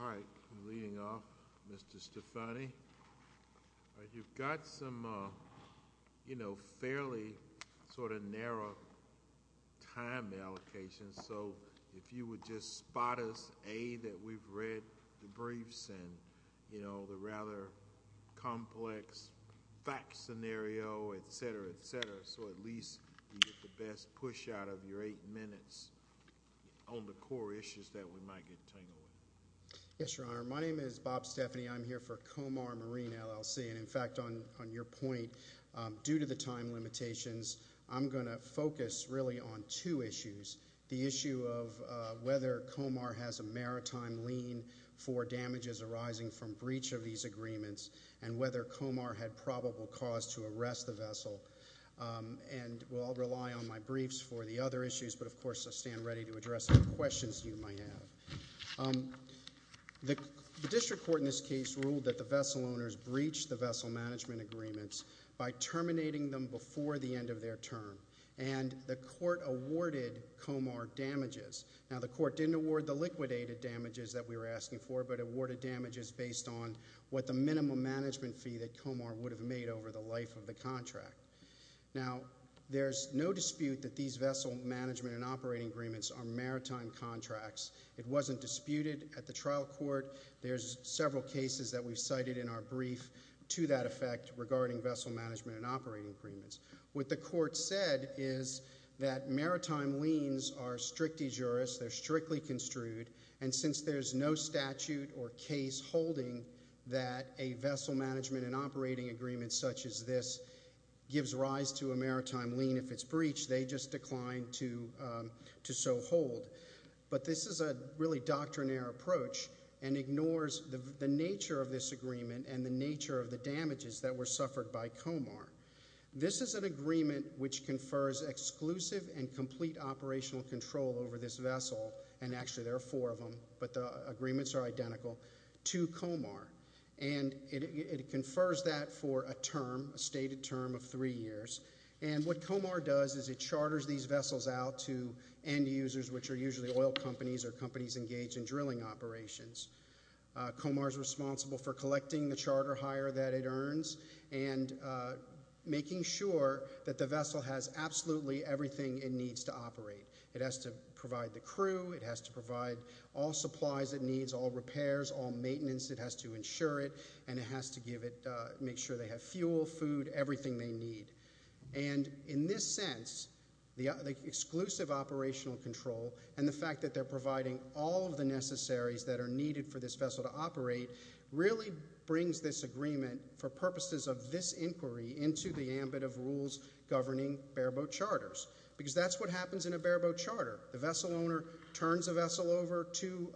All right, I'm leading off, Mr. Stefani. You've got some, you know, fairly sort of narrow time allocation, so if you would just spot us, A, that we've read the briefs and, you know, the rather complex facts scenario, et cetera, et cetera, so at least you get the best push out of your eight minutes on the core issues that we might get tangled with. Yes, Your Honor. My name is Bob Stefani. I'm here for Comar Marine, LLC, and, in fact, on your point, due to the time limitations, I'm going to focus really on two issues, the issue of whether Comar has a maritime lien for damages arising from breach of these agreements and whether Comar had probable cause to arrest the vessel. And, well, I'll rely on my briefs for the other issues, but, of course, I'll stand ready to address any questions you might have. The district court in this case ruled that the vessel owners breached the vessel management agreements by terminating them before the end of their term, and the court awarded Comar damages. Now, the court didn't award the liquidated damages that we were asking for but awarded damages based on what the minimum management fee that Comar would have made over the life of the contract. Now there's no dispute that these vessel management and operating agreements are maritime contracts. It wasn't disputed at the trial court. There's several cases that we've cited in our brief to that effect regarding vessel management and operating agreements. What the court said is that maritime liens are strict de jure, they're strictly construed, and since there's no statute or case holding that a vessel management and operating agreement such as this gives rise to a maritime lien if it's breached, they just declined to so hold. But this is a really doctrinaire approach and ignores the nature of this agreement and the nature of the damages that were suffered by Comar. This is an agreement which confers exclusive and complete operational control over this vessel, and actually there are four of them, but the agreements are identical, to Comar. And it confers that for a term, a stated term of three years, and what Comar does is it usually oil companies or companies engaged in drilling operations, Comar's responsible for collecting the charter hire that it earns and making sure that the vessel has absolutely everything it needs to operate. It has to provide the crew, it has to provide all supplies it needs, all repairs, all maintenance, it has to insure it, and it has to make sure they have fuel, food, everything they need. And in this sense, the exclusive operational control and the fact that they're providing all of the necessaries that are needed for this vessel to operate really brings this agreement for purposes of this inquiry into the ambit of rules governing bare boat charters. Because that's what happens in a bare boat charter. The vessel owner turns a vessel over to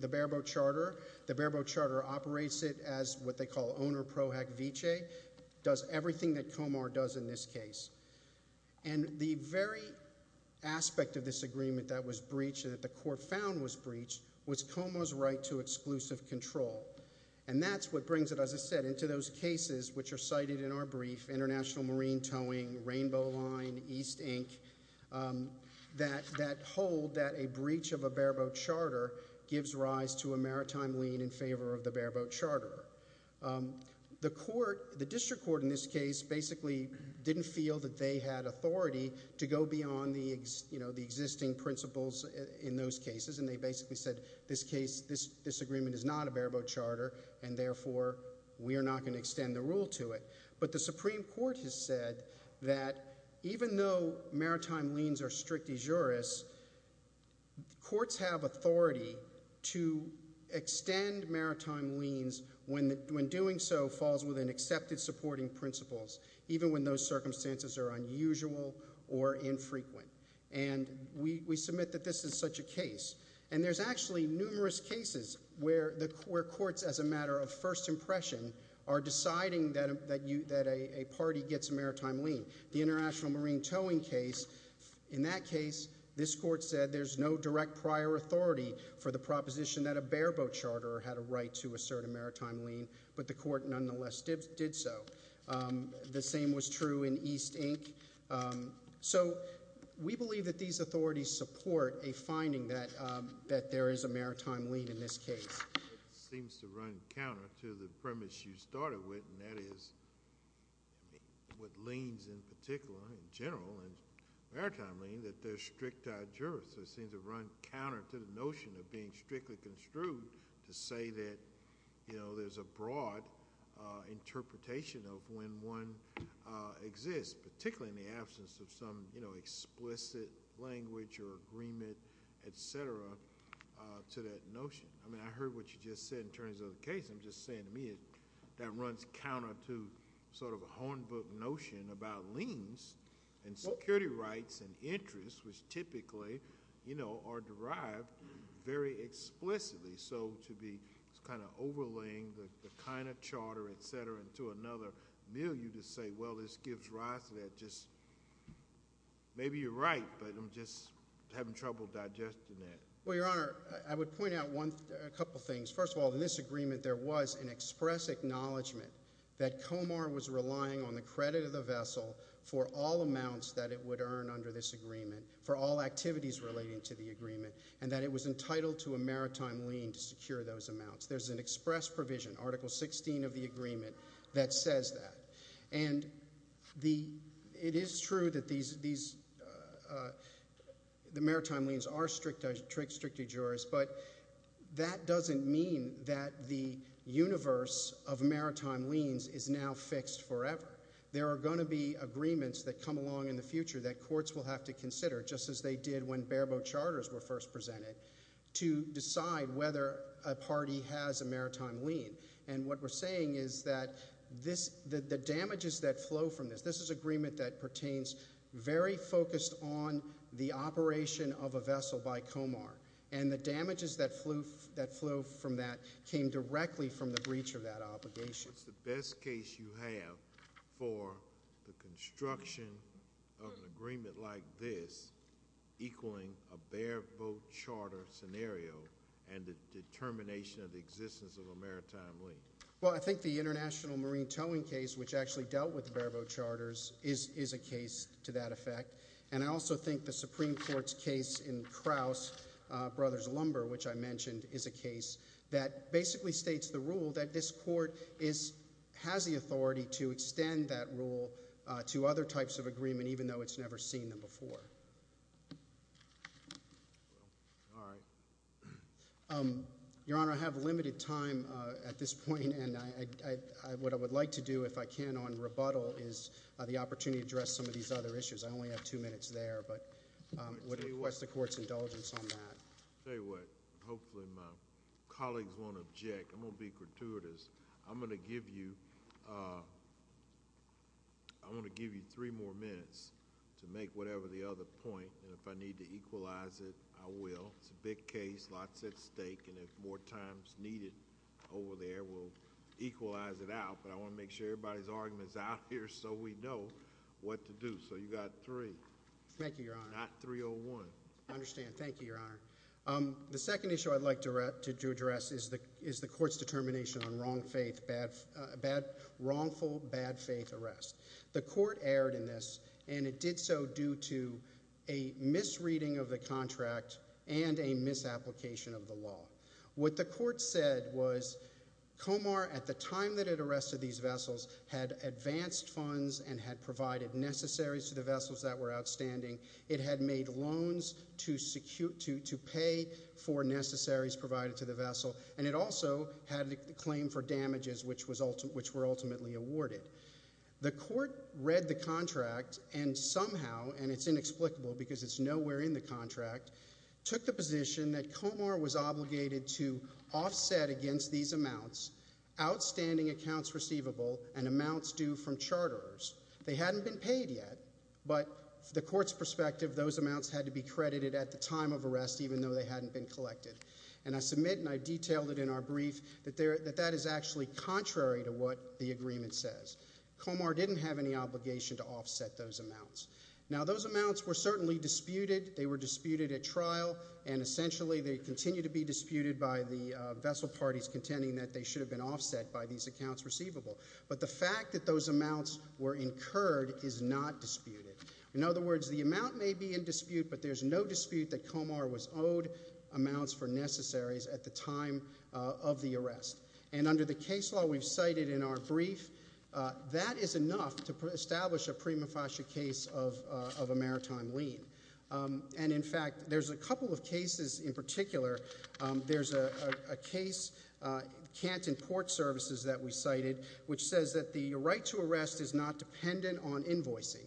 the bare boat charter, the bare boat charter operates it as what they call owner pro hack viche, does everything that Comar does in this case. And the very aspect of this agreement that was breached, that the court found was breached, was Comar's right to exclusive control. And that's what brings it, as I said, into those cases which are cited in our brief, international marine towing, rainbow line, East Inc., that hold that a breach of a bare boat charter. The court, the district court in this case, basically didn't feel that they had authority to go beyond the existing principles in those cases, and they basically said, this case, this agreement is not a bare boat charter, and therefore, we are not going to extend the rule to it. But the Supreme Court has said that even though maritime liens are strict de jures, courts have authority to extend maritime liens when doing so falls within accepted supporting principles, even when those circumstances are unusual or infrequent. And we submit that this is such a case. And there's actually numerous cases where courts, as a matter of first impression, are deciding that a party gets a maritime lien. The international marine towing case, in that case, this court said there's no direct prior authority for the proposition that a bare boat charter had a right to assert a maritime lien, but the court nonetheless did so. The same was true in East Inc. So we believe that these authorities support a finding that there is a maritime lien in this case. It seems to run counter to the premise you started with, and that is, with liens in particular, in general, and maritime lien, that they're strict de jure, so it seems to run counter to the notion of being strictly construed to say that there's a broad interpretation of when one exists, particularly in the absence of some explicit language or agreement, etc., to that notion. I mean, I heard what you just said in terms of the case. I'm just saying to me that runs counter to sort of a hornbook notion about liens and security rights and interests, which typically, you know, are derived very explicitly. So to be kind of overlaying the kind of charter, etc., into another milieu to say, well, this gives rise to that, just maybe you're right, but I'm just having trouble digesting that. Well, Your Honor, I would point out a couple things. First of all, in this agreement, there was an express acknowledgment that Comar was relying on the credit of the vessel for all amounts that it would earn under this agreement, for all activities relating to the agreement, and that it was entitled to a maritime lien to secure those amounts. There's an express provision, Article 16 of the agreement, that says that. And it is true that the maritime liens are strict de jures, but that doesn't mean that the universe of maritime liens is now fixed forever. There are going to be agreements that come along in the future that courts will have to consider, just as they did when bare-boat charters were first presented, to decide whether a party has a maritime lien. And what we're saying is that the damages that flow from this, this is an agreement that pertains very focused on the operation of a vessel by Comar. And the damages that flow from that came directly from the breach of that obligation. What's the best case you have for the construction of an agreement like this equaling a bare-boat charter scenario and the determination of the existence of a maritime lien? Well, I think the international marine towing case, which actually dealt with the bare-boat charters, is a case to that effect. And I also think the Supreme Court's case in Kraus, Brothers Lumber, which I mentioned, is a case that basically states the rule that this court has the authority to extend that rule to other types of agreement, even though it's never seen them before. All right. Your Honor, I have limited time at this point, and what I would like to do, if I can, on rebuttal, is the opportunity to address some of these other issues. I only have two minutes there, but I would request the Court's indulgence on that. Tell you what, hopefully my colleagues won't object. I'm going to be gratuitous. I'm going to give you, I want to give you three more minutes to make whatever the other point. And if I need to equalize it, I will. It's a big case. Lots at stake. And if more time is needed over there, we'll equalize it out. But I want to make sure everybody's argument is out here so we know what to do. So you've got three. Thank you, Your Honor. Not 301. I understand. Thank you, Your Honor. The second issue I'd like to address is the Court's determination on wrongful, bad-faith arrest. The Court erred in this, and it did so due to a misreading of the contract and a misapplication of the law. What the Court said was Comar, at the time that it arrested these vessels, had advanced funds and had provided necessaries to the vessels that were outstanding. It had made loans to pay for necessaries provided to the vessel. And it also had a claim for damages, which were ultimately awarded. The Court read the contract and somehow, and it's inexplicable because it's nowhere in the contract, took the position that Comar was obligated to offset against these amounts outstanding accounts receivable and amounts due from charters. They hadn't been paid yet, but from the Court's perspective, those amounts had to be credited at the time of arrest, even though they hadn't been collected. And I submit, and I detailed it in our brief, that that is actually contrary to what the Court says. Comar didn't have any obligation to offset those amounts. Now, those amounts were certainly disputed. They were disputed at trial, and essentially, they continue to be disputed by the vessel parties contending that they should have been offset by these accounts receivable. But the fact that those amounts were incurred is not disputed. In other words, the amount may be in dispute, but there's no dispute that Comar was owed amounts for necessaries at the time of the arrest. And under the case law we've cited in our brief, that is enough to establish a prima facie case of a maritime lien. And in fact, there's a couple of cases in particular. There's a case, Canton Port Services, that we cited, which says that the right to arrest is not dependent on invoicing.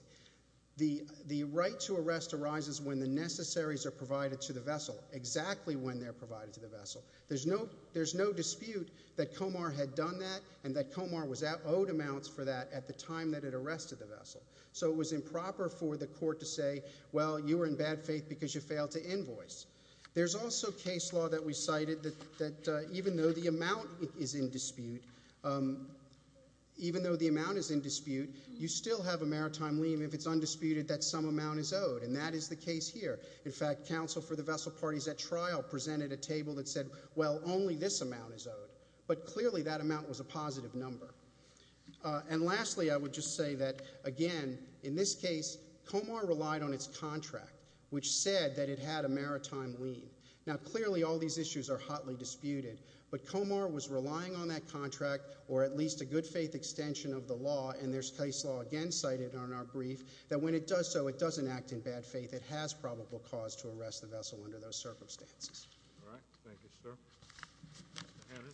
The right to arrest arises when the necessaries are provided to the vessel, exactly when they're provided to the vessel. There's no dispute that Comar had done that and that Comar was owed amounts for that at the time that it arrested the vessel. So it was improper for the court to say, well, you were in bad faith because you failed to invoice. There's also case law that we cited that even though the amount is in dispute, even though the amount is in dispute, you still have a maritime lien if it's undisputed that some amount is owed. And that is the case here. In fact, counsel for the vessel parties at trial presented a table that said, well, only this amount is owed. But clearly that amount was a positive number. And lastly, I would just say that, again, in this case, Comar relied on its contract, which said that it had a maritime lien. Now, clearly all these issues are hotly disputed, but Comar was relying on that contract or at least a good faith extension of the law, and there's case law again cited on our brief, that when it does so, it doesn't act in bad faith. It has probable cause to arrest the vessel under those circumstances. All right. Thank you, sir. Mr. Hatton.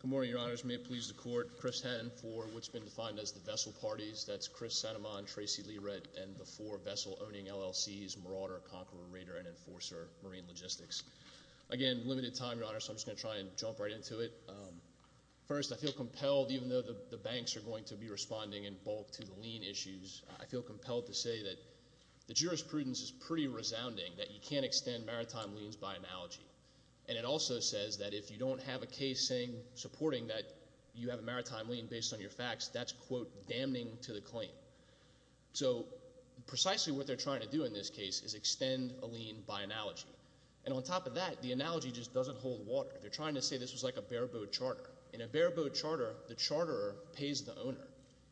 Good morning, Your Honors. May it please the court, Chris Hatton for what's been defined as the vessel parties. That's Chris Sanamon, Tracy Liret, and the four vessel-owning LLCs, Marauder, Conqueror, Raider, and Enforcer Marine Logistics. Again, limited time, Your Honor, so I'm just going to try and jump right into it. First, I feel compelled, even though the banks are going to be responding in bulk to the lien issues, I feel compelled to say that the jurisprudence is pretty resounding that you can't extend maritime liens by analogy. And it also says that if you don't have a case supporting that you have a maritime lien based on your facts, that's, quote, damning to the claim. So precisely what they're trying to do in this case is extend a lien by analogy. And on top of that, the analogy just doesn't hold water. They're trying to say this was like a bareboat charter. In a bareboat charter, the charterer pays the owner.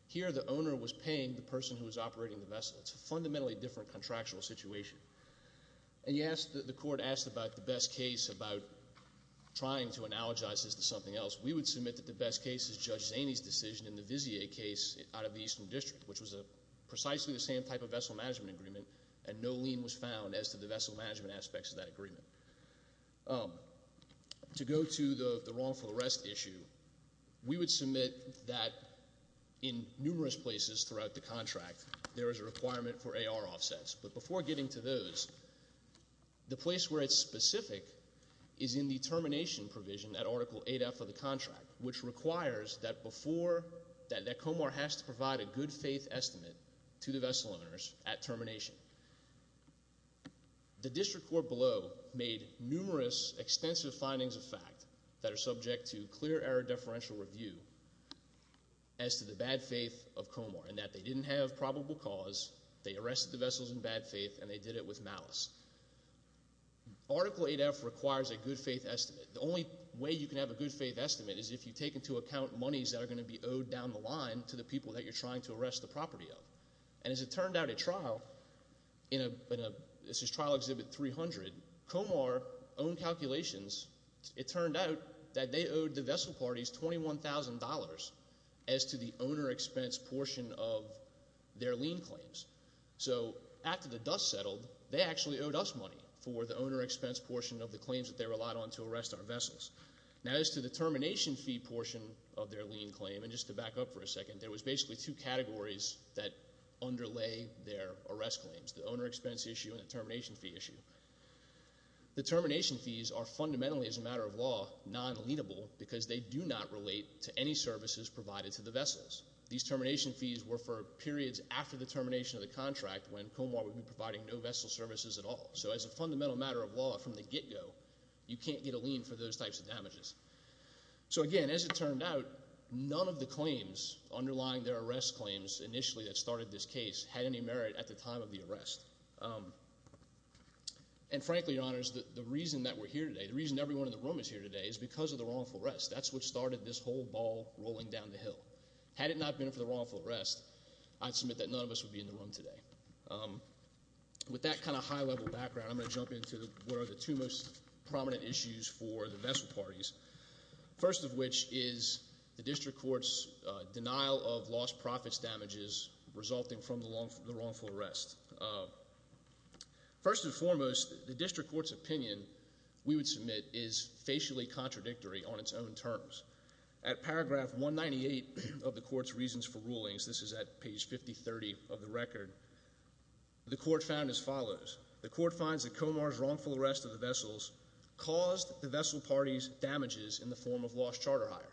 Here the owner was paying the person who was operating the vessel. It's a fundamentally different contractual situation. And the court asked about the best case about trying to analogize this to something else. We would submit that the best case is Judge Zaney's decision in the Vizier case out of the Eastern District, which was precisely the same type of vessel management agreement, and no lien was found as to the vessel management aspects of that agreement. To go to the wrongful arrest issue, we would submit that in numerous places throughout the contract, there is a requirement for AR offsets. But before getting to those, the place where it's specific is in the termination provision at Article 8F of the contract, which requires that Comar has to provide a good-faith estimate to the vessel owners at termination. The district court below made numerous extensive findings of fact that are subject to clear error deferential review as to the bad faith of Comar in that they didn't have probable cause, they arrested the vessels in bad faith, and they did it with malice. Article 8F requires a good-faith estimate. The only way you can have a good-faith estimate is if you take into account monies that are going to be owed down the line to the people that you're trying to arrest the property of. And as it turned out at trial, this is Trial Exhibit 300, Comar owned calculations. It turned out that they owed the vessel parties $21,000 as to the owner expense portion of their lien claims. So after the dust settled, they actually owed us money for the owner expense portion of the claims that they relied on to arrest our vessels. Now as to the termination fee portion of their lien claim, and just to back up for a second, there was basically two categories that underlay their arrest claims, the owner expense issue and the termination fee issue. The termination fees are fundamentally as a matter of law non-lienable because they do not relate to any services provided to the vessels. These termination fees were for periods after the termination of the contract when Comar would be providing no vessel services at all. So as a fundamental matter of law from the get-go, you can't get a lien for those types of damages. So again, as it turned out, none of the claims underlying their arrest claims initially that started this case had any merit at the time of the arrest. And frankly, Your Honors, the reason that we're here today, the reason everyone in the room is here today is because of the wrongful arrest. That's what started this whole ball rolling down the hill. Had it not been for the wrongful arrest, I'd submit that none of us would be in the room today. With that kind of high-level background, I'm going to jump into what are the two most prominent issues for the vessel parties, first of which is the district court's denial of lost profits damages resulting from the wrongful arrest. First and foremost, the district court's opinion, we would submit, is facially contradictory on its own terms. At paragraph 198 of the court's reasons for rulings, this is at page 5030 of the record, the court found as follows. The court finds that Comar's wrongful arrest of the vessels caused the vessel parties damages in the form of lost charter hire.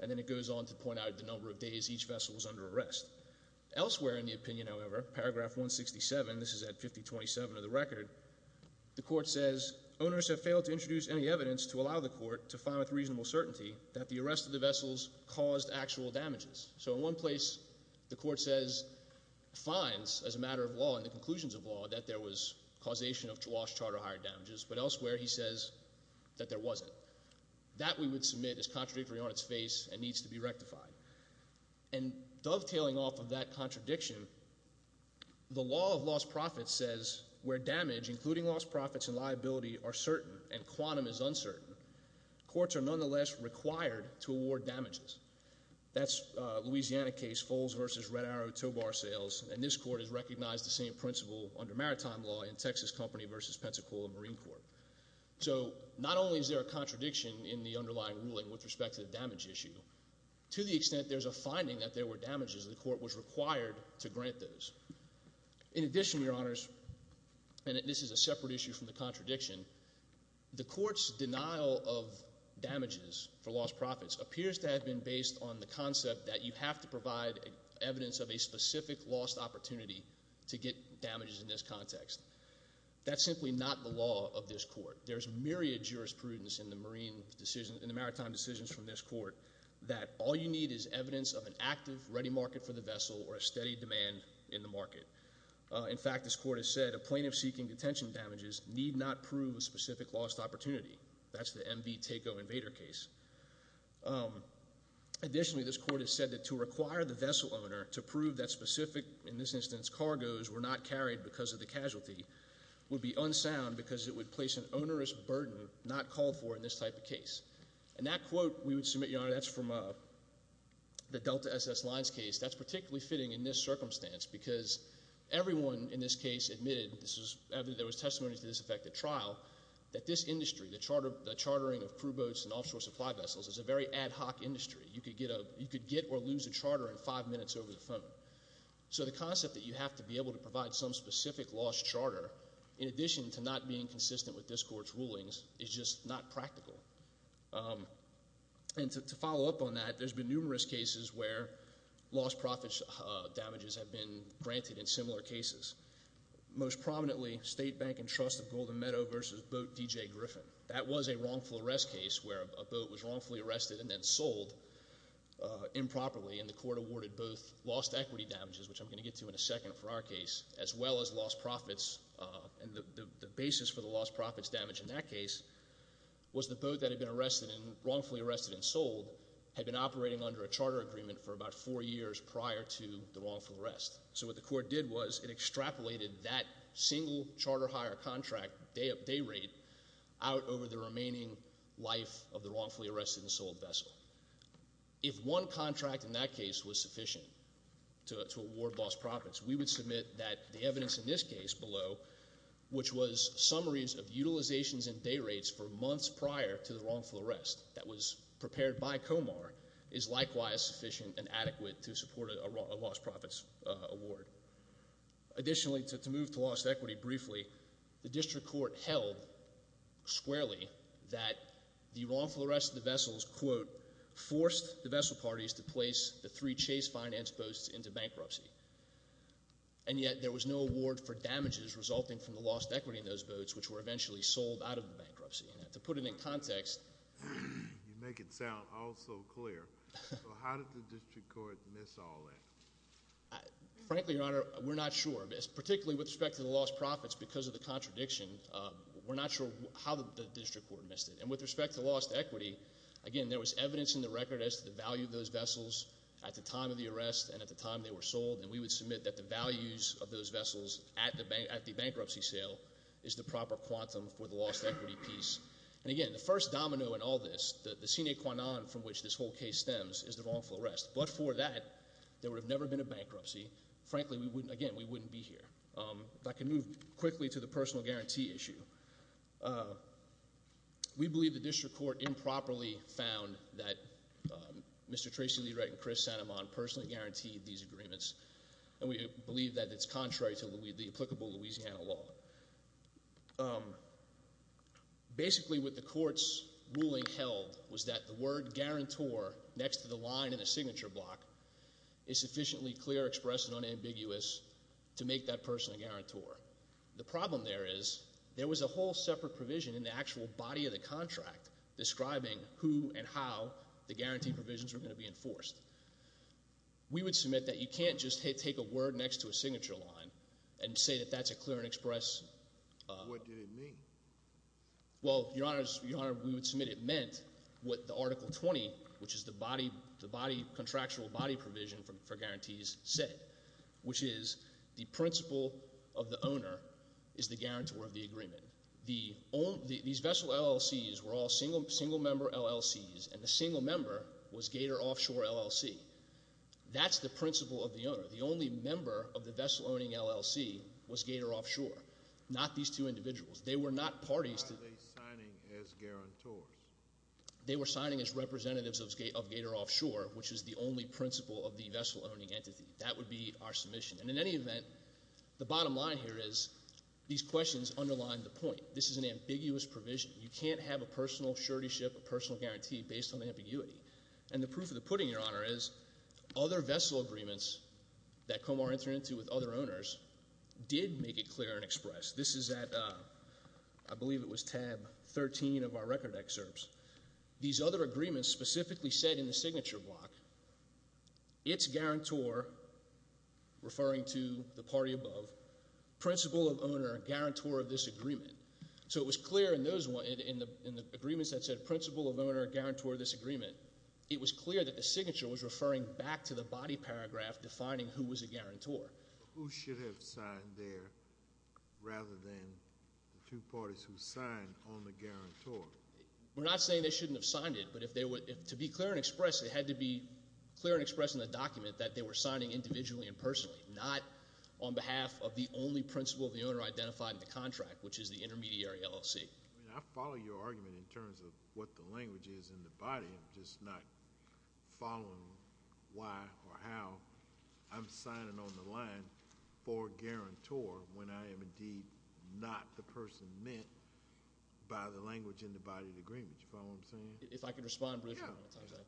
And then it goes on to point out the number of days each vessel was under arrest. Elsewhere in the opinion, however, paragraph 167, this is at 5027 of the record, the court says, Owners have failed to introduce any evidence to allow the court to find with reasonable certainty that the arrest of the vessels caused actual damages. So in one place, the court says, finds, as a matter of law and the conclusions of law, that there was causation of lost charter hire damages. But elsewhere he says that there wasn't. That, we would submit, is contradictory on its face and needs to be rectified. And dovetailing off of that contradiction, the law of lost profits says where damage, including lost profits and liability, are certain and quantum is uncertain, courts are nonetheless required to award damages. That's a Louisiana case, Foles v. Red Arrow Tow Bar Sales, and this court has recognized the same principle under maritime law in Texas Company v. Pensacola Marine Corps. So not only is there a contradiction in the underlying ruling with respect to the damage issue, to the extent there's a finding that there were damages, the court was required to grant those. In addition, Your Honors, and this is a separate issue from the contradiction, the court's denial of damages for lost profits appears to have been based on the concept that you have to provide evidence of a specific lost opportunity to get damages in this context. That's simply not the law of this court. There's myriad jurisprudence in the maritime decisions from this court that all you need is evidence of an active ready market for the vessel or a steady demand in the market. In fact, this court has said a plaintiff seeking detention damages need not prove a specific lost opportunity. That's the MV Takeo Invader case. Additionally, this court has said that to require the vessel owner to prove that specific, in this instance, cargos were not carried because of the casualty, would be unsound because it would place an onerous burden not called for in this type of case. And that quote, we would submit, Your Honor, that's from the Delta SS Lines case. That's particularly fitting in this circumstance because everyone in this case admitted, there was testimony to this effect at trial, that this industry, the chartering of crew boats and offshore supply vessels is a very ad hoc industry. You could get or lose a charter in five minutes over the phone. So the concept that you have to be able to provide some specific lost charter, in addition to not being consistent with this court's rulings, is just not practical. And to follow up on that, there's been numerous cases where lost profits damages have been granted in similar cases. Most prominently, State Bank and Trust of Golden Meadow versus Boat DJ Griffin. That was a wrongful arrest case where a boat was wrongfully arrested and then sold improperly, and the court awarded both lost equity damages, which I'm going to get to in a second for our case, as well as lost profits. And the basis for the lost profits damage in that case was the boat that had been wrongfully arrested and sold had been operating under a charter agreement for about four years prior to the wrongful arrest. So what the court did was it extrapolated that single charter hire contract day rate out over the remaining life of the wrongfully arrested and sold vessel. If one contract in that case was sufficient to award lost profits, we would submit that the evidence in this case below, which was summaries of utilizations and day rates for months prior to the wrongful arrest that was prepared by Comar, is likewise sufficient and adequate to support a lost profits award. Additionally, to move to lost equity briefly, the district court held squarely that the wrongful arrest of the vessels quote, forced the vessel parties to place the three chase finance boats into bankruptcy. And yet there was no award for damages resulting from the lost equity in those boats, which were eventually sold out of the bankruptcy. And to put it in context. You make it sound all so clear. How did the district court miss all that? Frankly, Your Honor, we're not sure. Particularly with respect to the lost profits because of the contradiction, we're not sure how the district court missed it. And with respect to lost equity, again, there was evidence in the record as to the value of those vessels at the time of the arrest and at the time they were sold. And we would submit that the values of those vessels at the bankruptcy sale is the proper quantum for the lost equity piece. And again, the first domino in all this, the sine qua non from which this whole case stems, is the wrongful arrest. But for that, there would have never been a bankruptcy. Frankly, again, we wouldn't be here. If I could move quickly to the personal guarantee issue. We believe the district court improperly found that Mr. Tracy Lederich and Chris Sanamon personally guaranteed these agreements. And we believe that it's contrary to the applicable Louisiana law. Basically, what the court's ruling held was that the word guarantor next to the line in the signature block is sufficiently clear, expressed, and unambiguous to make that person a guarantor. The problem there is there was a whole separate provision in the actual body of the contract describing who and how the guarantee provisions were going to be enforced. We would submit that you can't just take a word next to a signature line and say that that's a clear and express- What did it mean? Well, Your Honor, we would submit it meant what the Article 20, which is the contractual body provision for guarantees, said, which is the principle of the owner is the guarantor of the agreement. These vessel LLCs were all single-member LLCs, and the single member was Gator Offshore LLC. That's the principle of the owner. The only member of the vessel-owning LLC was Gator Offshore, not these two individuals. They were not parties to- Why are they signing as guarantors? They were signing as representatives of Gator Offshore, which is the only principle of the vessel-owning entity. That would be our submission. And in any event, the bottom line here is these questions underline the point. This is an ambiguous provision. You can't have a personal surety ship, a personal guarantee based on ambiguity. And the proof of the pudding, Your Honor, is other vessel agreements that Comar entered into with other owners did make it clear and express. This is at, I believe it was tab 13 of our record excerpts. These other agreements specifically said in the signature block, it's guarantor, referring to the party above, principle of owner, guarantor of this agreement. So it was clear in the agreements that said principle of owner, guarantor of this agreement, it was clear that the signature was referring back to the body paragraph defining who was a guarantor. Who should have signed there rather than the two parties who signed on the guarantor? We're not saying they shouldn't have signed it, but to be clear and express, it had to be clear and express in the document that they were signing individually and personally, not on behalf of the only principle of the owner identified in the contract, which is the intermediary LLC. I mean, I follow your argument in terms of what the language is in the body. I'm just not following why or how I'm signing on the line for guarantor when I am indeed not the person meant by the language in the body of the agreement. Do you follow what I'm saying? If I could respond briefly on that. Yeah.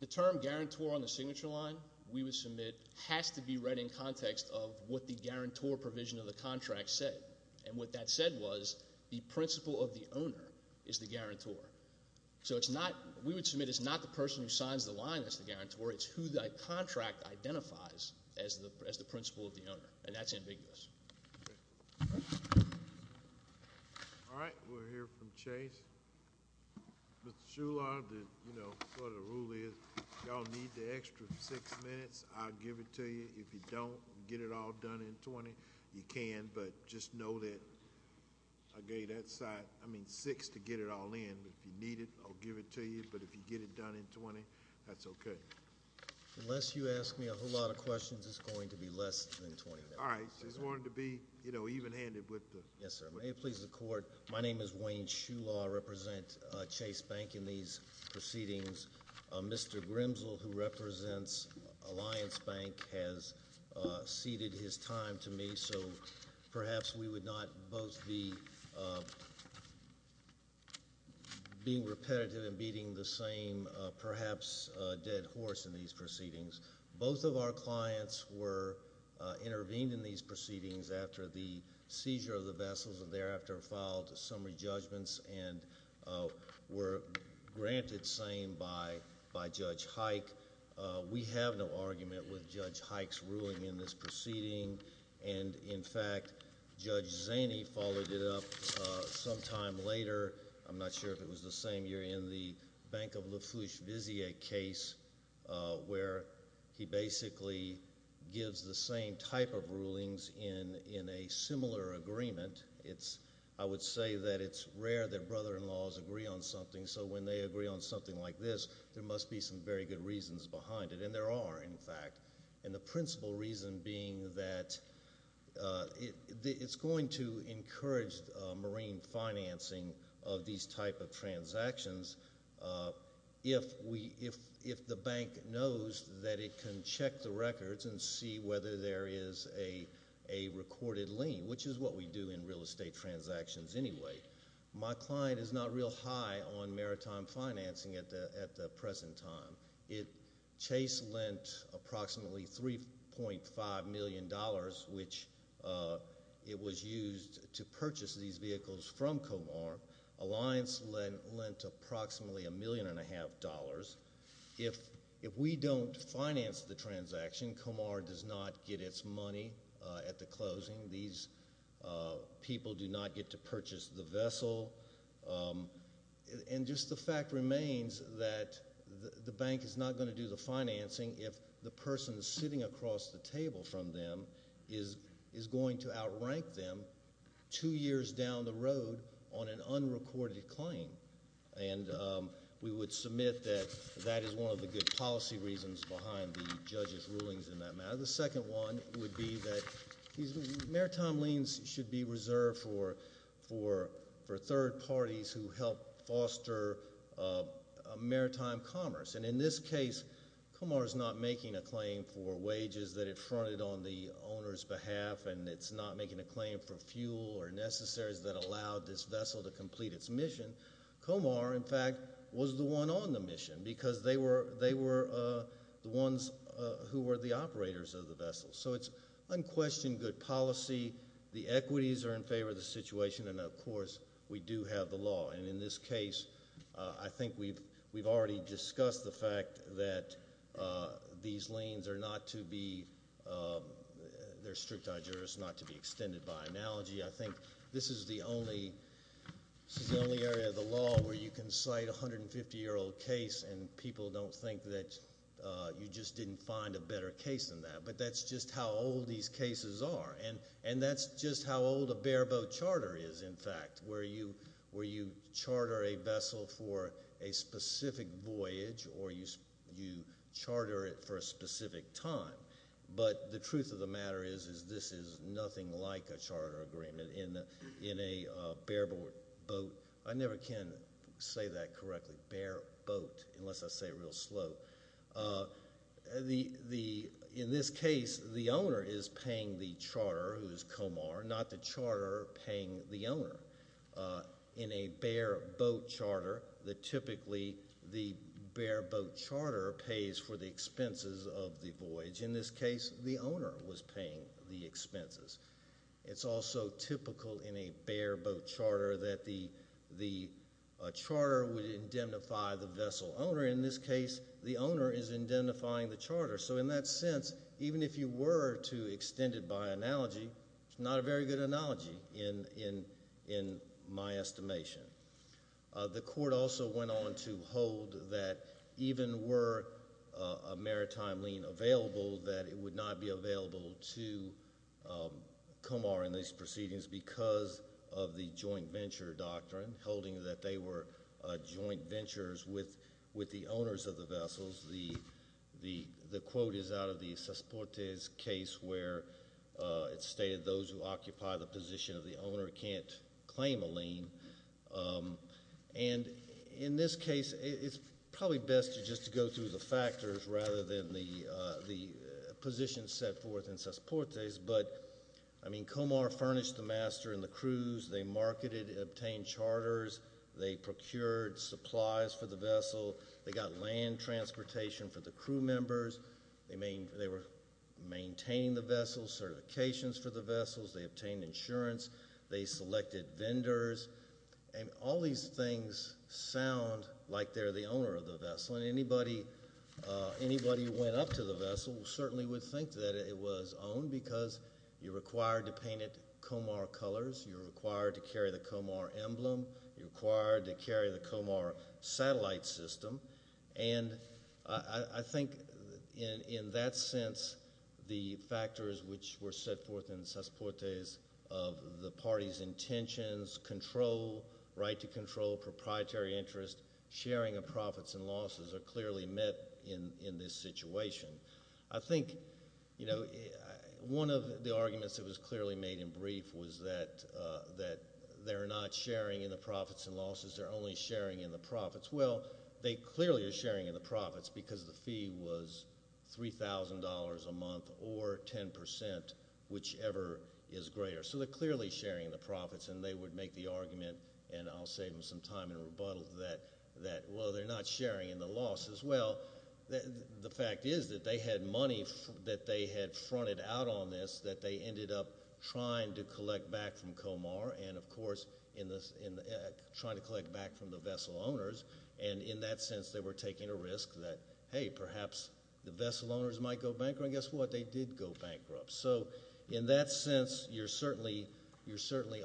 The term guarantor on the signature line we would submit has to be read in context of what the guarantor provision of the contract said. And what that said was the principle of the owner is the guarantor. So it's not, we would submit it's not the person who signs the line that's the guarantor. It's who that contract identifies as the principle of the owner. And that's ambiguous. Okay. All right. We'll hear from Chase. Mr. Shular, you know, what the rule is, y'all need the extra six minutes. I'll give it to you. If you don't, get it all done in 20. You can, but just know that I gave you that side, I mean, six to get it all in. If you need it, I'll give it to you. But if you get it done in 20, that's okay. Unless you ask me a whole lot of questions, it's going to be less than 20 minutes. All right. Just wanted to be, you know, even-handed with the. Yes, sir. May it please the court. My name is Wayne Shular. I represent Chase Bank in these proceedings. Mr. Grimsel, who represents Alliance Bank, has ceded his time to me. So perhaps we would not both be being repetitive and beating the same, perhaps, dead horse in these proceedings. Both of our clients were intervened in these proceedings after the seizure of the vessels and thereafter filed summary judgments and were granted same by Judge Hike. We have no argument with Judge Hike's ruling in this proceeding. And, in fact, Judge Zaney followed it up sometime later. I'm not sure if it was the same year, in the Bank of Lafourche-Vizier case, where he basically gives the same type of rulings in a similar agreement. I would say that it's rare that brother-in-laws agree on something, so when they agree on something like this, there must be some very good reasons behind it. And there are, in fact. And the principal reason being that it's going to encourage marine financing of these type of transactions if the bank knows that it can check the records and see whether there is a recorded lien, which is what we do in real estate transactions anyway. My client is not real high on maritime financing at the present time. Chase lent approximately $3.5 million, which it was used to purchase these vehicles from Comar. Alliance lent approximately $1.5 million. If we don't finance the transaction, Comar does not get its money at the closing. These people do not get to purchase the vessel. And just the fact remains that the bank is not going to do the financing if the person sitting across the table from them is going to outrank them two years down the road on an unrecorded claim. And we would submit that that is one of the good policy reasons behind the judge's rulings in that matter. The second one would be that maritime liens should be reserved for third parties who help foster maritime commerce. And in this case, Comar is not making a claim for wages that it fronted on the owner's behalf, and it's not making a claim for fuel or necessaries that allowed this vessel to complete its mission. Comar, in fact, was the one on the mission because they were the ones who were the operators of the vessel. So it's unquestioned good policy. The equities are in favor of the situation, and, of course, we do have the law. And in this case, I think we've already discussed the fact that these liens are not to be – they're strict to our jurisdiction, not to be extended by analogy. I think this is the only area of the law where you can cite a 150-year-old case, and people don't think that you just didn't find a better case than that. But that's just how old these cases are, and that's just how old a bareboat charter is, in fact, where you charter a vessel for a specific voyage or you charter it for a specific time. But the truth of the matter is this is nothing like a charter agreement in a bareboat. I never can say that correctly, bareboat, unless I say it real slow. In this case, the owner is paying the charterer, who is Comar, not the charterer paying the owner. In a bareboat charterer, typically the bareboat charterer pays for the expenses of the voyage. In this case, the owner was paying the expenses. It's also typical in a bareboat charterer that the charterer would indemnify the vessel owner. In this case, the owner is indemnifying the charterer. So in that sense, even if you were to extend it by analogy, it's not a very good analogy in my estimation. The court also went on to hold that even were a maritime lien available, that it would not be available to Comar in these proceedings because of the joint venture doctrine, holding that they were joint ventures with the owners of the vessels. The quote is out of the Cesportes case where it stated those who occupy the position of the owner can't claim a lien. And in this case, it's probably best just to go through the factors rather than the positions set forth in Cesportes. Comar furnished the master and the crews. They marketed and obtained charters. They procured supplies for the vessel. They got land transportation for the crew members. They were maintaining the vessels, certifications for the vessels. They obtained insurance. They selected vendors. And all these things sound like they're the owner of the vessel. And anybody who went up to the vessel certainly would think that it was owned because you're required to paint it Comar colors. You're required to carry the Comar emblem. You're required to carry the Comar satellite system. And I think in that sense, the factors which were set forth in Cesportes of the party's intentions, control, right to control, proprietary interest, sharing of profits and losses are clearly met in this situation. I think one of the arguments that was clearly made in brief was that they're not sharing in the profits and losses. Well, they clearly are sharing in the profits because the fee was $3,000 a month or 10%, whichever is greater. So they're clearly sharing the profits. And they would make the argument, and I'll save them some time in rebuttal, that, well, they're not sharing in the losses. Well, the fact is that they had money that they had fronted out on this that they ended up trying to collect back from Comar and, of course, trying to collect back from the vessel owners. And in that sense, they were taking a risk that, hey, perhaps the vessel owners might go bankrupt. And guess what? They did go bankrupt. So in that sense, you're certainly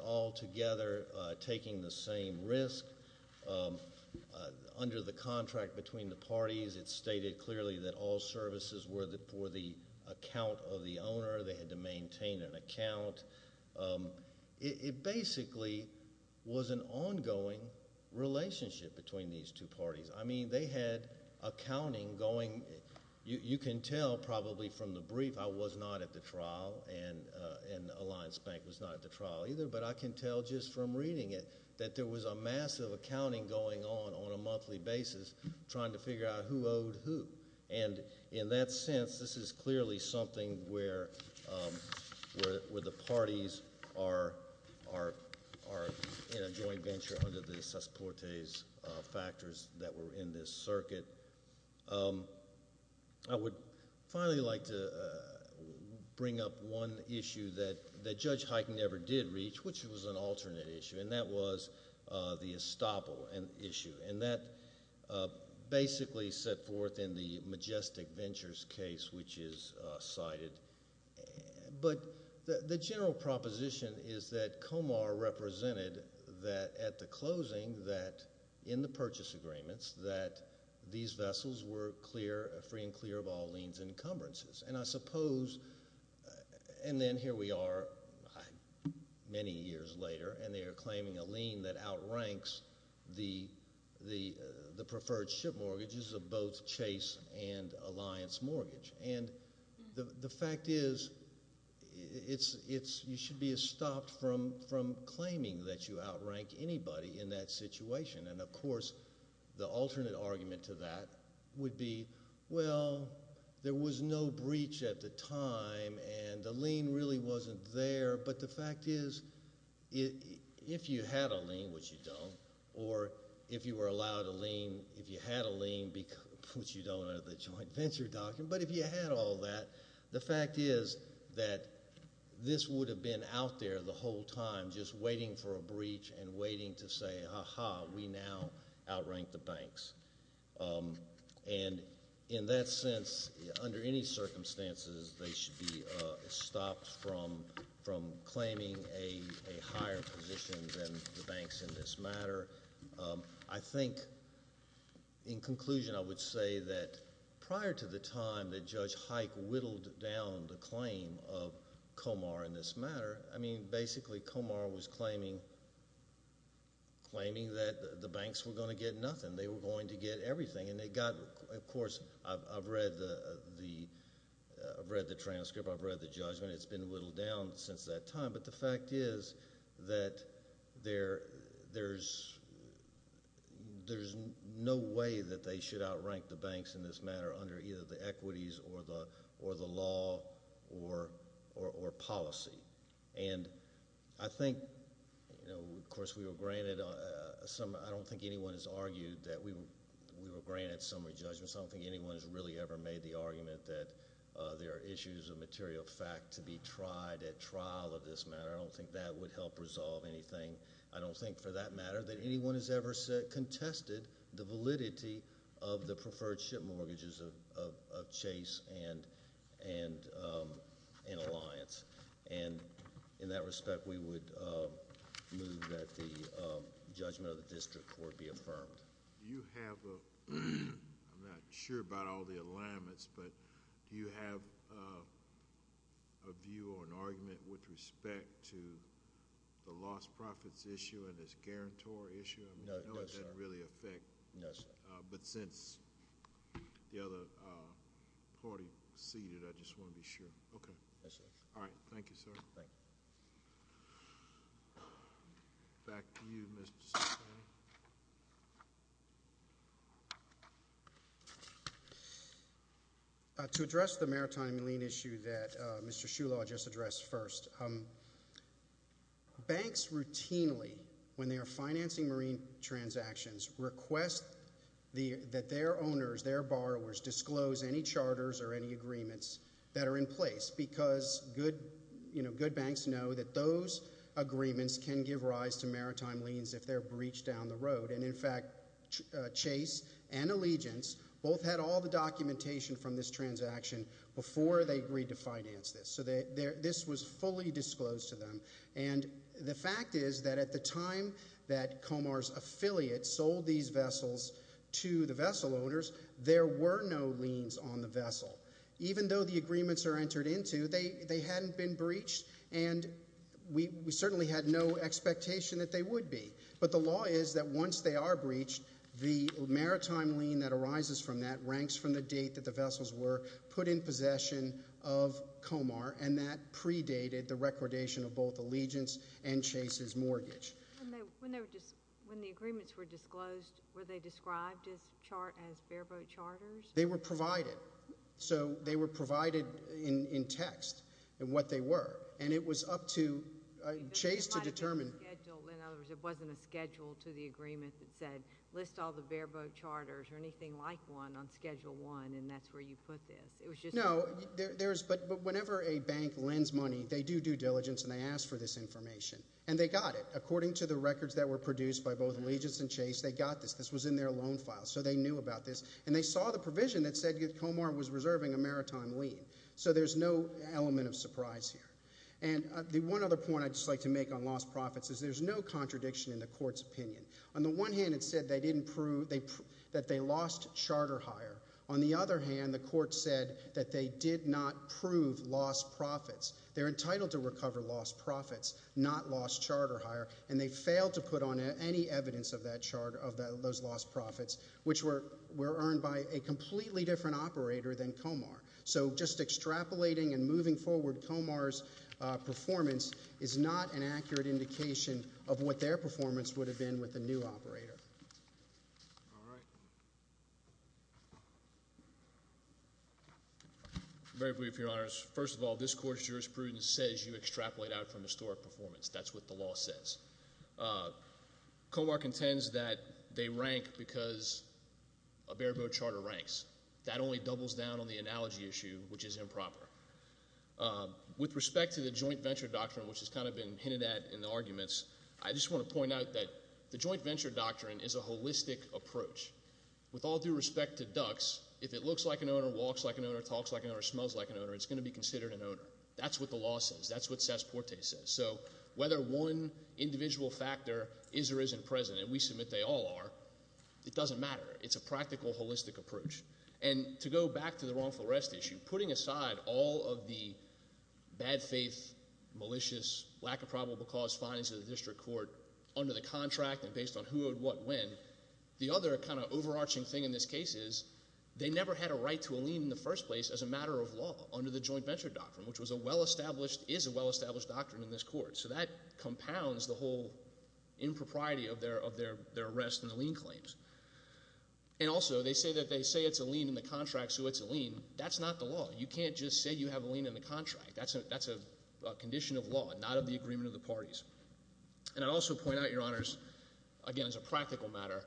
altogether taking the same risk. Under the contract between the parties, it's stated clearly that all services were for the account of the owner. They had to maintain an account. It basically was an ongoing relationship between these two parties. I mean, they had accounting going. You can tell probably from the brief I was not at the trial, and Alliance Bank was not at the trial either, but I can tell just from reading it that there was a massive accounting going on on a monthly basis trying to figure out who owed who. And in that sense, this is clearly something where the parties are in a joint venture under the sus portes factors that were in this circuit. I would finally like to bring up one issue that Judge Hyken never did reach, which was an alternate issue, and that was the estoppel issue. And that basically set forth in the Majestic Ventures case, which is cited. But the general proposition is that Comar represented that at the closing, that in the purchase agreements, that these vessels were free and clear of all liens and encumbrances. And then here we are many years later, and they are claiming a lien that outranks the preferred ship mortgages of both Chase and Alliance Mortgage. And the fact is you should be estopped from claiming that you outrank anybody in that situation. And, of course, the alternate argument to that would be, well, there was no breach at the time, and the lien really wasn't there. But the fact is if you had a lien, which you don't, or if you were allowed a lien, if you had a lien, which you don't under the joint venture document, but if you had all that, the fact is that this would have been out there the whole time just waiting for a breach and waiting to say, ha-ha, we now outrank the banks. And in that sense, under any circumstances, they should be estopped from claiming a higher position than the banks in this matter. I think in conclusion I would say that prior to the time that Judge Hike whittled down the claim of Comar in this matter, I mean, basically Comar was claiming that the banks were going to get nothing. They were going to get everything, and they got – of course, I've read the transcript. I've read the judgment. It's been whittled down since that time. But the fact is that there's no way that they should outrank the banks in this matter under either the equities or the law or policy. And I think, of course, we were granted – I don't think anyone has argued that we were granted summary judgments. I don't think anyone has really ever made the argument that there are issues of material fact to be tried at trial of this matter. I don't think that would help resolve anything. I don't think for that matter that anyone has ever contested the validity of the preferred ship mortgages of Chase and Alliance. And in that respect, we would move that the judgment of the district court be affirmed. Do you have a – I'm not sure about all the alignments, but do you have a view or an argument with respect to the lost profits issue and this guarantor issue? No, sir. I mean, I know it doesn't really affect – No, sir. But since the other party ceded, I just want to be sure. Okay. Yes, sir. All right. Thank you, sir. Thank you. Back to you, Mr. Cipriani. To address the maritime lien issue that Mr. Shulaw just addressed first, banks routinely, when they are financing marine transactions, request that their owners, their borrowers, disclose any charters or any agreements that are in place because good banks know that those agreements can give rise to maritime liens if they're breached down the road. And in fact, Chase and Allegiance both had all the documentation from this transaction before they agreed to finance this. So this was fully disclosed to them. And the fact is that at the time that Comar's affiliate sold these vessels to the vessel owners, there were no liens on the vessel. Even though the agreements are entered into, they hadn't been breached, and we certainly had no expectation that they would be. But the law is that once they are breached, the maritime lien that arises from that ranks from the date that the vessels were put in possession of Comar, and that predated the recordation of both Allegiance and Chase's mortgage. When the agreements were disclosed, were they described as bareboat charters? They were provided. So they were provided in text, what they were. And it was up to Chase to determine. In other words, it wasn't a schedule to the agreement that said list all the bareboat charters or anything like one on Schedule 1, and that's where you put this. No, but whenever a bank lends money, they do due diligence and they ask for this information. And they got it. According to the records that were produced by both Allegiance and Chase, they got this. This was in their loan file, so they knew about this. And they saw the provision that said Comar was reserving a maritime lien. So there's no element of surprise here. And the one other point I'd just like to make on lost profits is there's no contradiction in the court's opinion. On the one hand, it said they didn't prove that they lost charter hire. On the other hand, the court said that they did not prove lost profits. They're entitled to recover lost profits, not lost charter hire. And they failed to put on any evidence of those lost profits, which were earned by a completely different operator than Comar. So just extrapolating and moving forward, Comar's performance is not an accurate indication of what their performance would have been with the new operator. All right. Very briefly, Your Honors. First of all, this court's jurisprudence says you extrapolate out from historic performance. That's what the law says. Comar contends that they rank because a bareboat charter ranks. That only doubles down on the analogy issue, which is improper. With respect to the joint venture doctrine, which has kind of been hinted at in the arguments, I just want to point out that the joint venture doctrine is a holistic approach. With all due respect to ducks, if it looks like an owner, walks like an owner, talks like an owner, smells like an owner, it's going to be considered an owner. That's what the law says. That's what Sass-Porte says. So whether one individual factor is or isn't present, and we submit they all are, it doesn't matter. It's a practical, holistic approach. And to go back to the wrongful arrest issue, putting aside all of the bad faith, malicious, lack of probable cause findings of the district court under the contract and based on who would what when, the other kind of overarching thing in this case is they never had a right to a lien in the first place as a matter of law under the joint venture doctrine, which was a well-established, is a well-established doctrine in this court. So that compounds the whole impropriety of their arrest and the lien claims. And also, they say that they say it's a lien in the contract, so it's a lien. That's not the law. You can't just say you have a lien in the contract. That's a condition of law and not of the agreement of the parties. And I'd also point out, Your Honors, again, as a practical matter,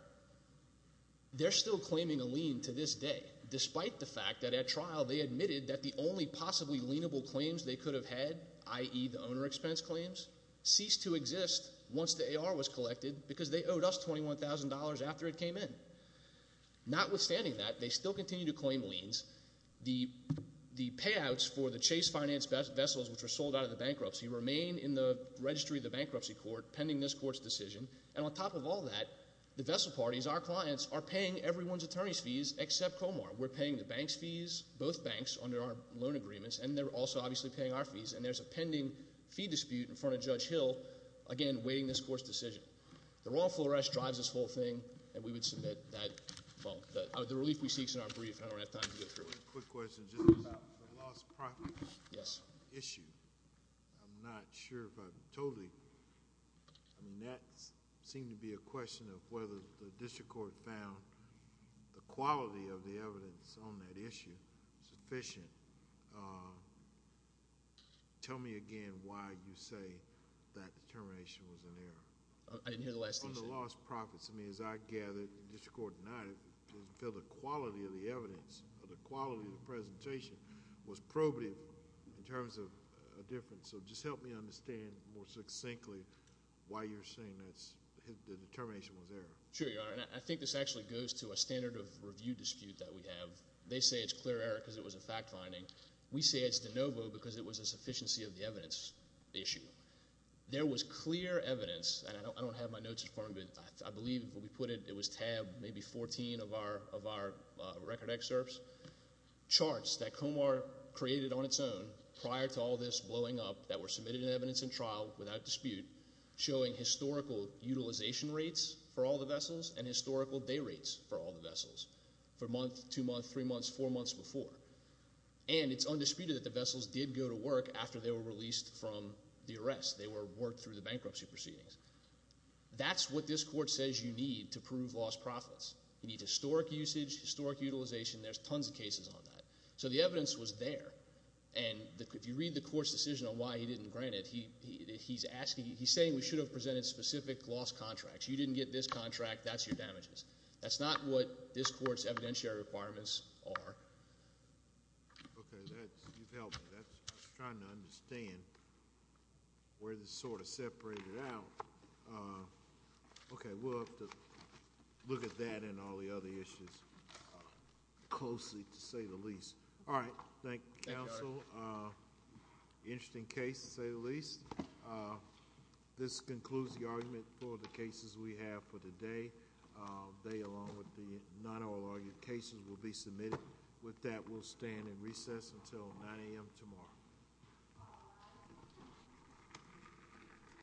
they're still claiming a lien to this day, despite the fact that at trial they admitted that the only possibly lienable claims they could have had, i.e., the owner expense claims, ceased to exist once the AR was collected because they owed us $21,000 after it came in. Notwithstanding that, they still continue to claim liens. The payouts for the Chase Finance vessels, which were sold out of the bankruptcy, remain in the registry of the bankruptcy court pending this court's decision. And on top of all that, the vessel parties, our clients, are paying everyone's attorney's fees except Comar. We're paying the bank's fees, both banks, under our loan agreements, and they're also obviously paying our fees. And there's a pending fee dispute in front of Judge Hill, again, waiting this court's decision. The Royal Full Arrest drives this whole thing, and we would submit that. Well, the relief we seek is in our brief, and I don't have time to get through it. Quick question. Just about the lost property issue. I'm not sure if I'm totally—I mean, that seemed to be a question of whether the district court found the quality of the evidence on that issue sufficient. Tell me again why you say that determination was an error. I didn't hear the last issue. On the lost profits, I mean, as I gathered, the district court denied it. It didn't feel the quality of the evidence or the quality of the presentation was probative in terms of a difference. So just help me understand more succinctly why you're saying that the determination was error. Sure, Your Honor. And I think this actually goes to a standard of review dispute that we have. They say it's clear error because it was a fact finding. We say it's de novo because it was a sufficiency of the evidence issue. There was clear evidence, and I don't have my notes in front of me, but I believe when we put it, it was tab maybe 14 of our record excerpts, charts that Comar created on its own prior to all this blowing up that were submitted in evidence in trial without dispute showing historical utilization rates for all the vessels and historical day rates for all the vessels for a month, two months, three months, four months before. And it's undisputed that the vessels did go to work after they were released from the arrest. They were worked through the bankruptcy proceedings. That's what this court says you need to prove lost profits. You need historic usage, historic utilization. There's tons of cases on that. So the evidence was there, and if you read the court's decision on why he didn't grant it, he's asking, he's saying we should have presented specific lost contracts. You didn't get this contract. That's your damages. That's not what this court's evidentiary requirements are. Okay. You've helped. I was trying to understand where this sort of separated out. Okay. We'll have to look at that and all the other issues closely, to say the least. All right. Thank you, counsel. Thank you, Art. Interesting case, to say the least. This concludes the argument for the cases we have for today. They, along with the not all argued cases, will be submitted. With that, we'll stand in recess until 9 a.m. tomorrow.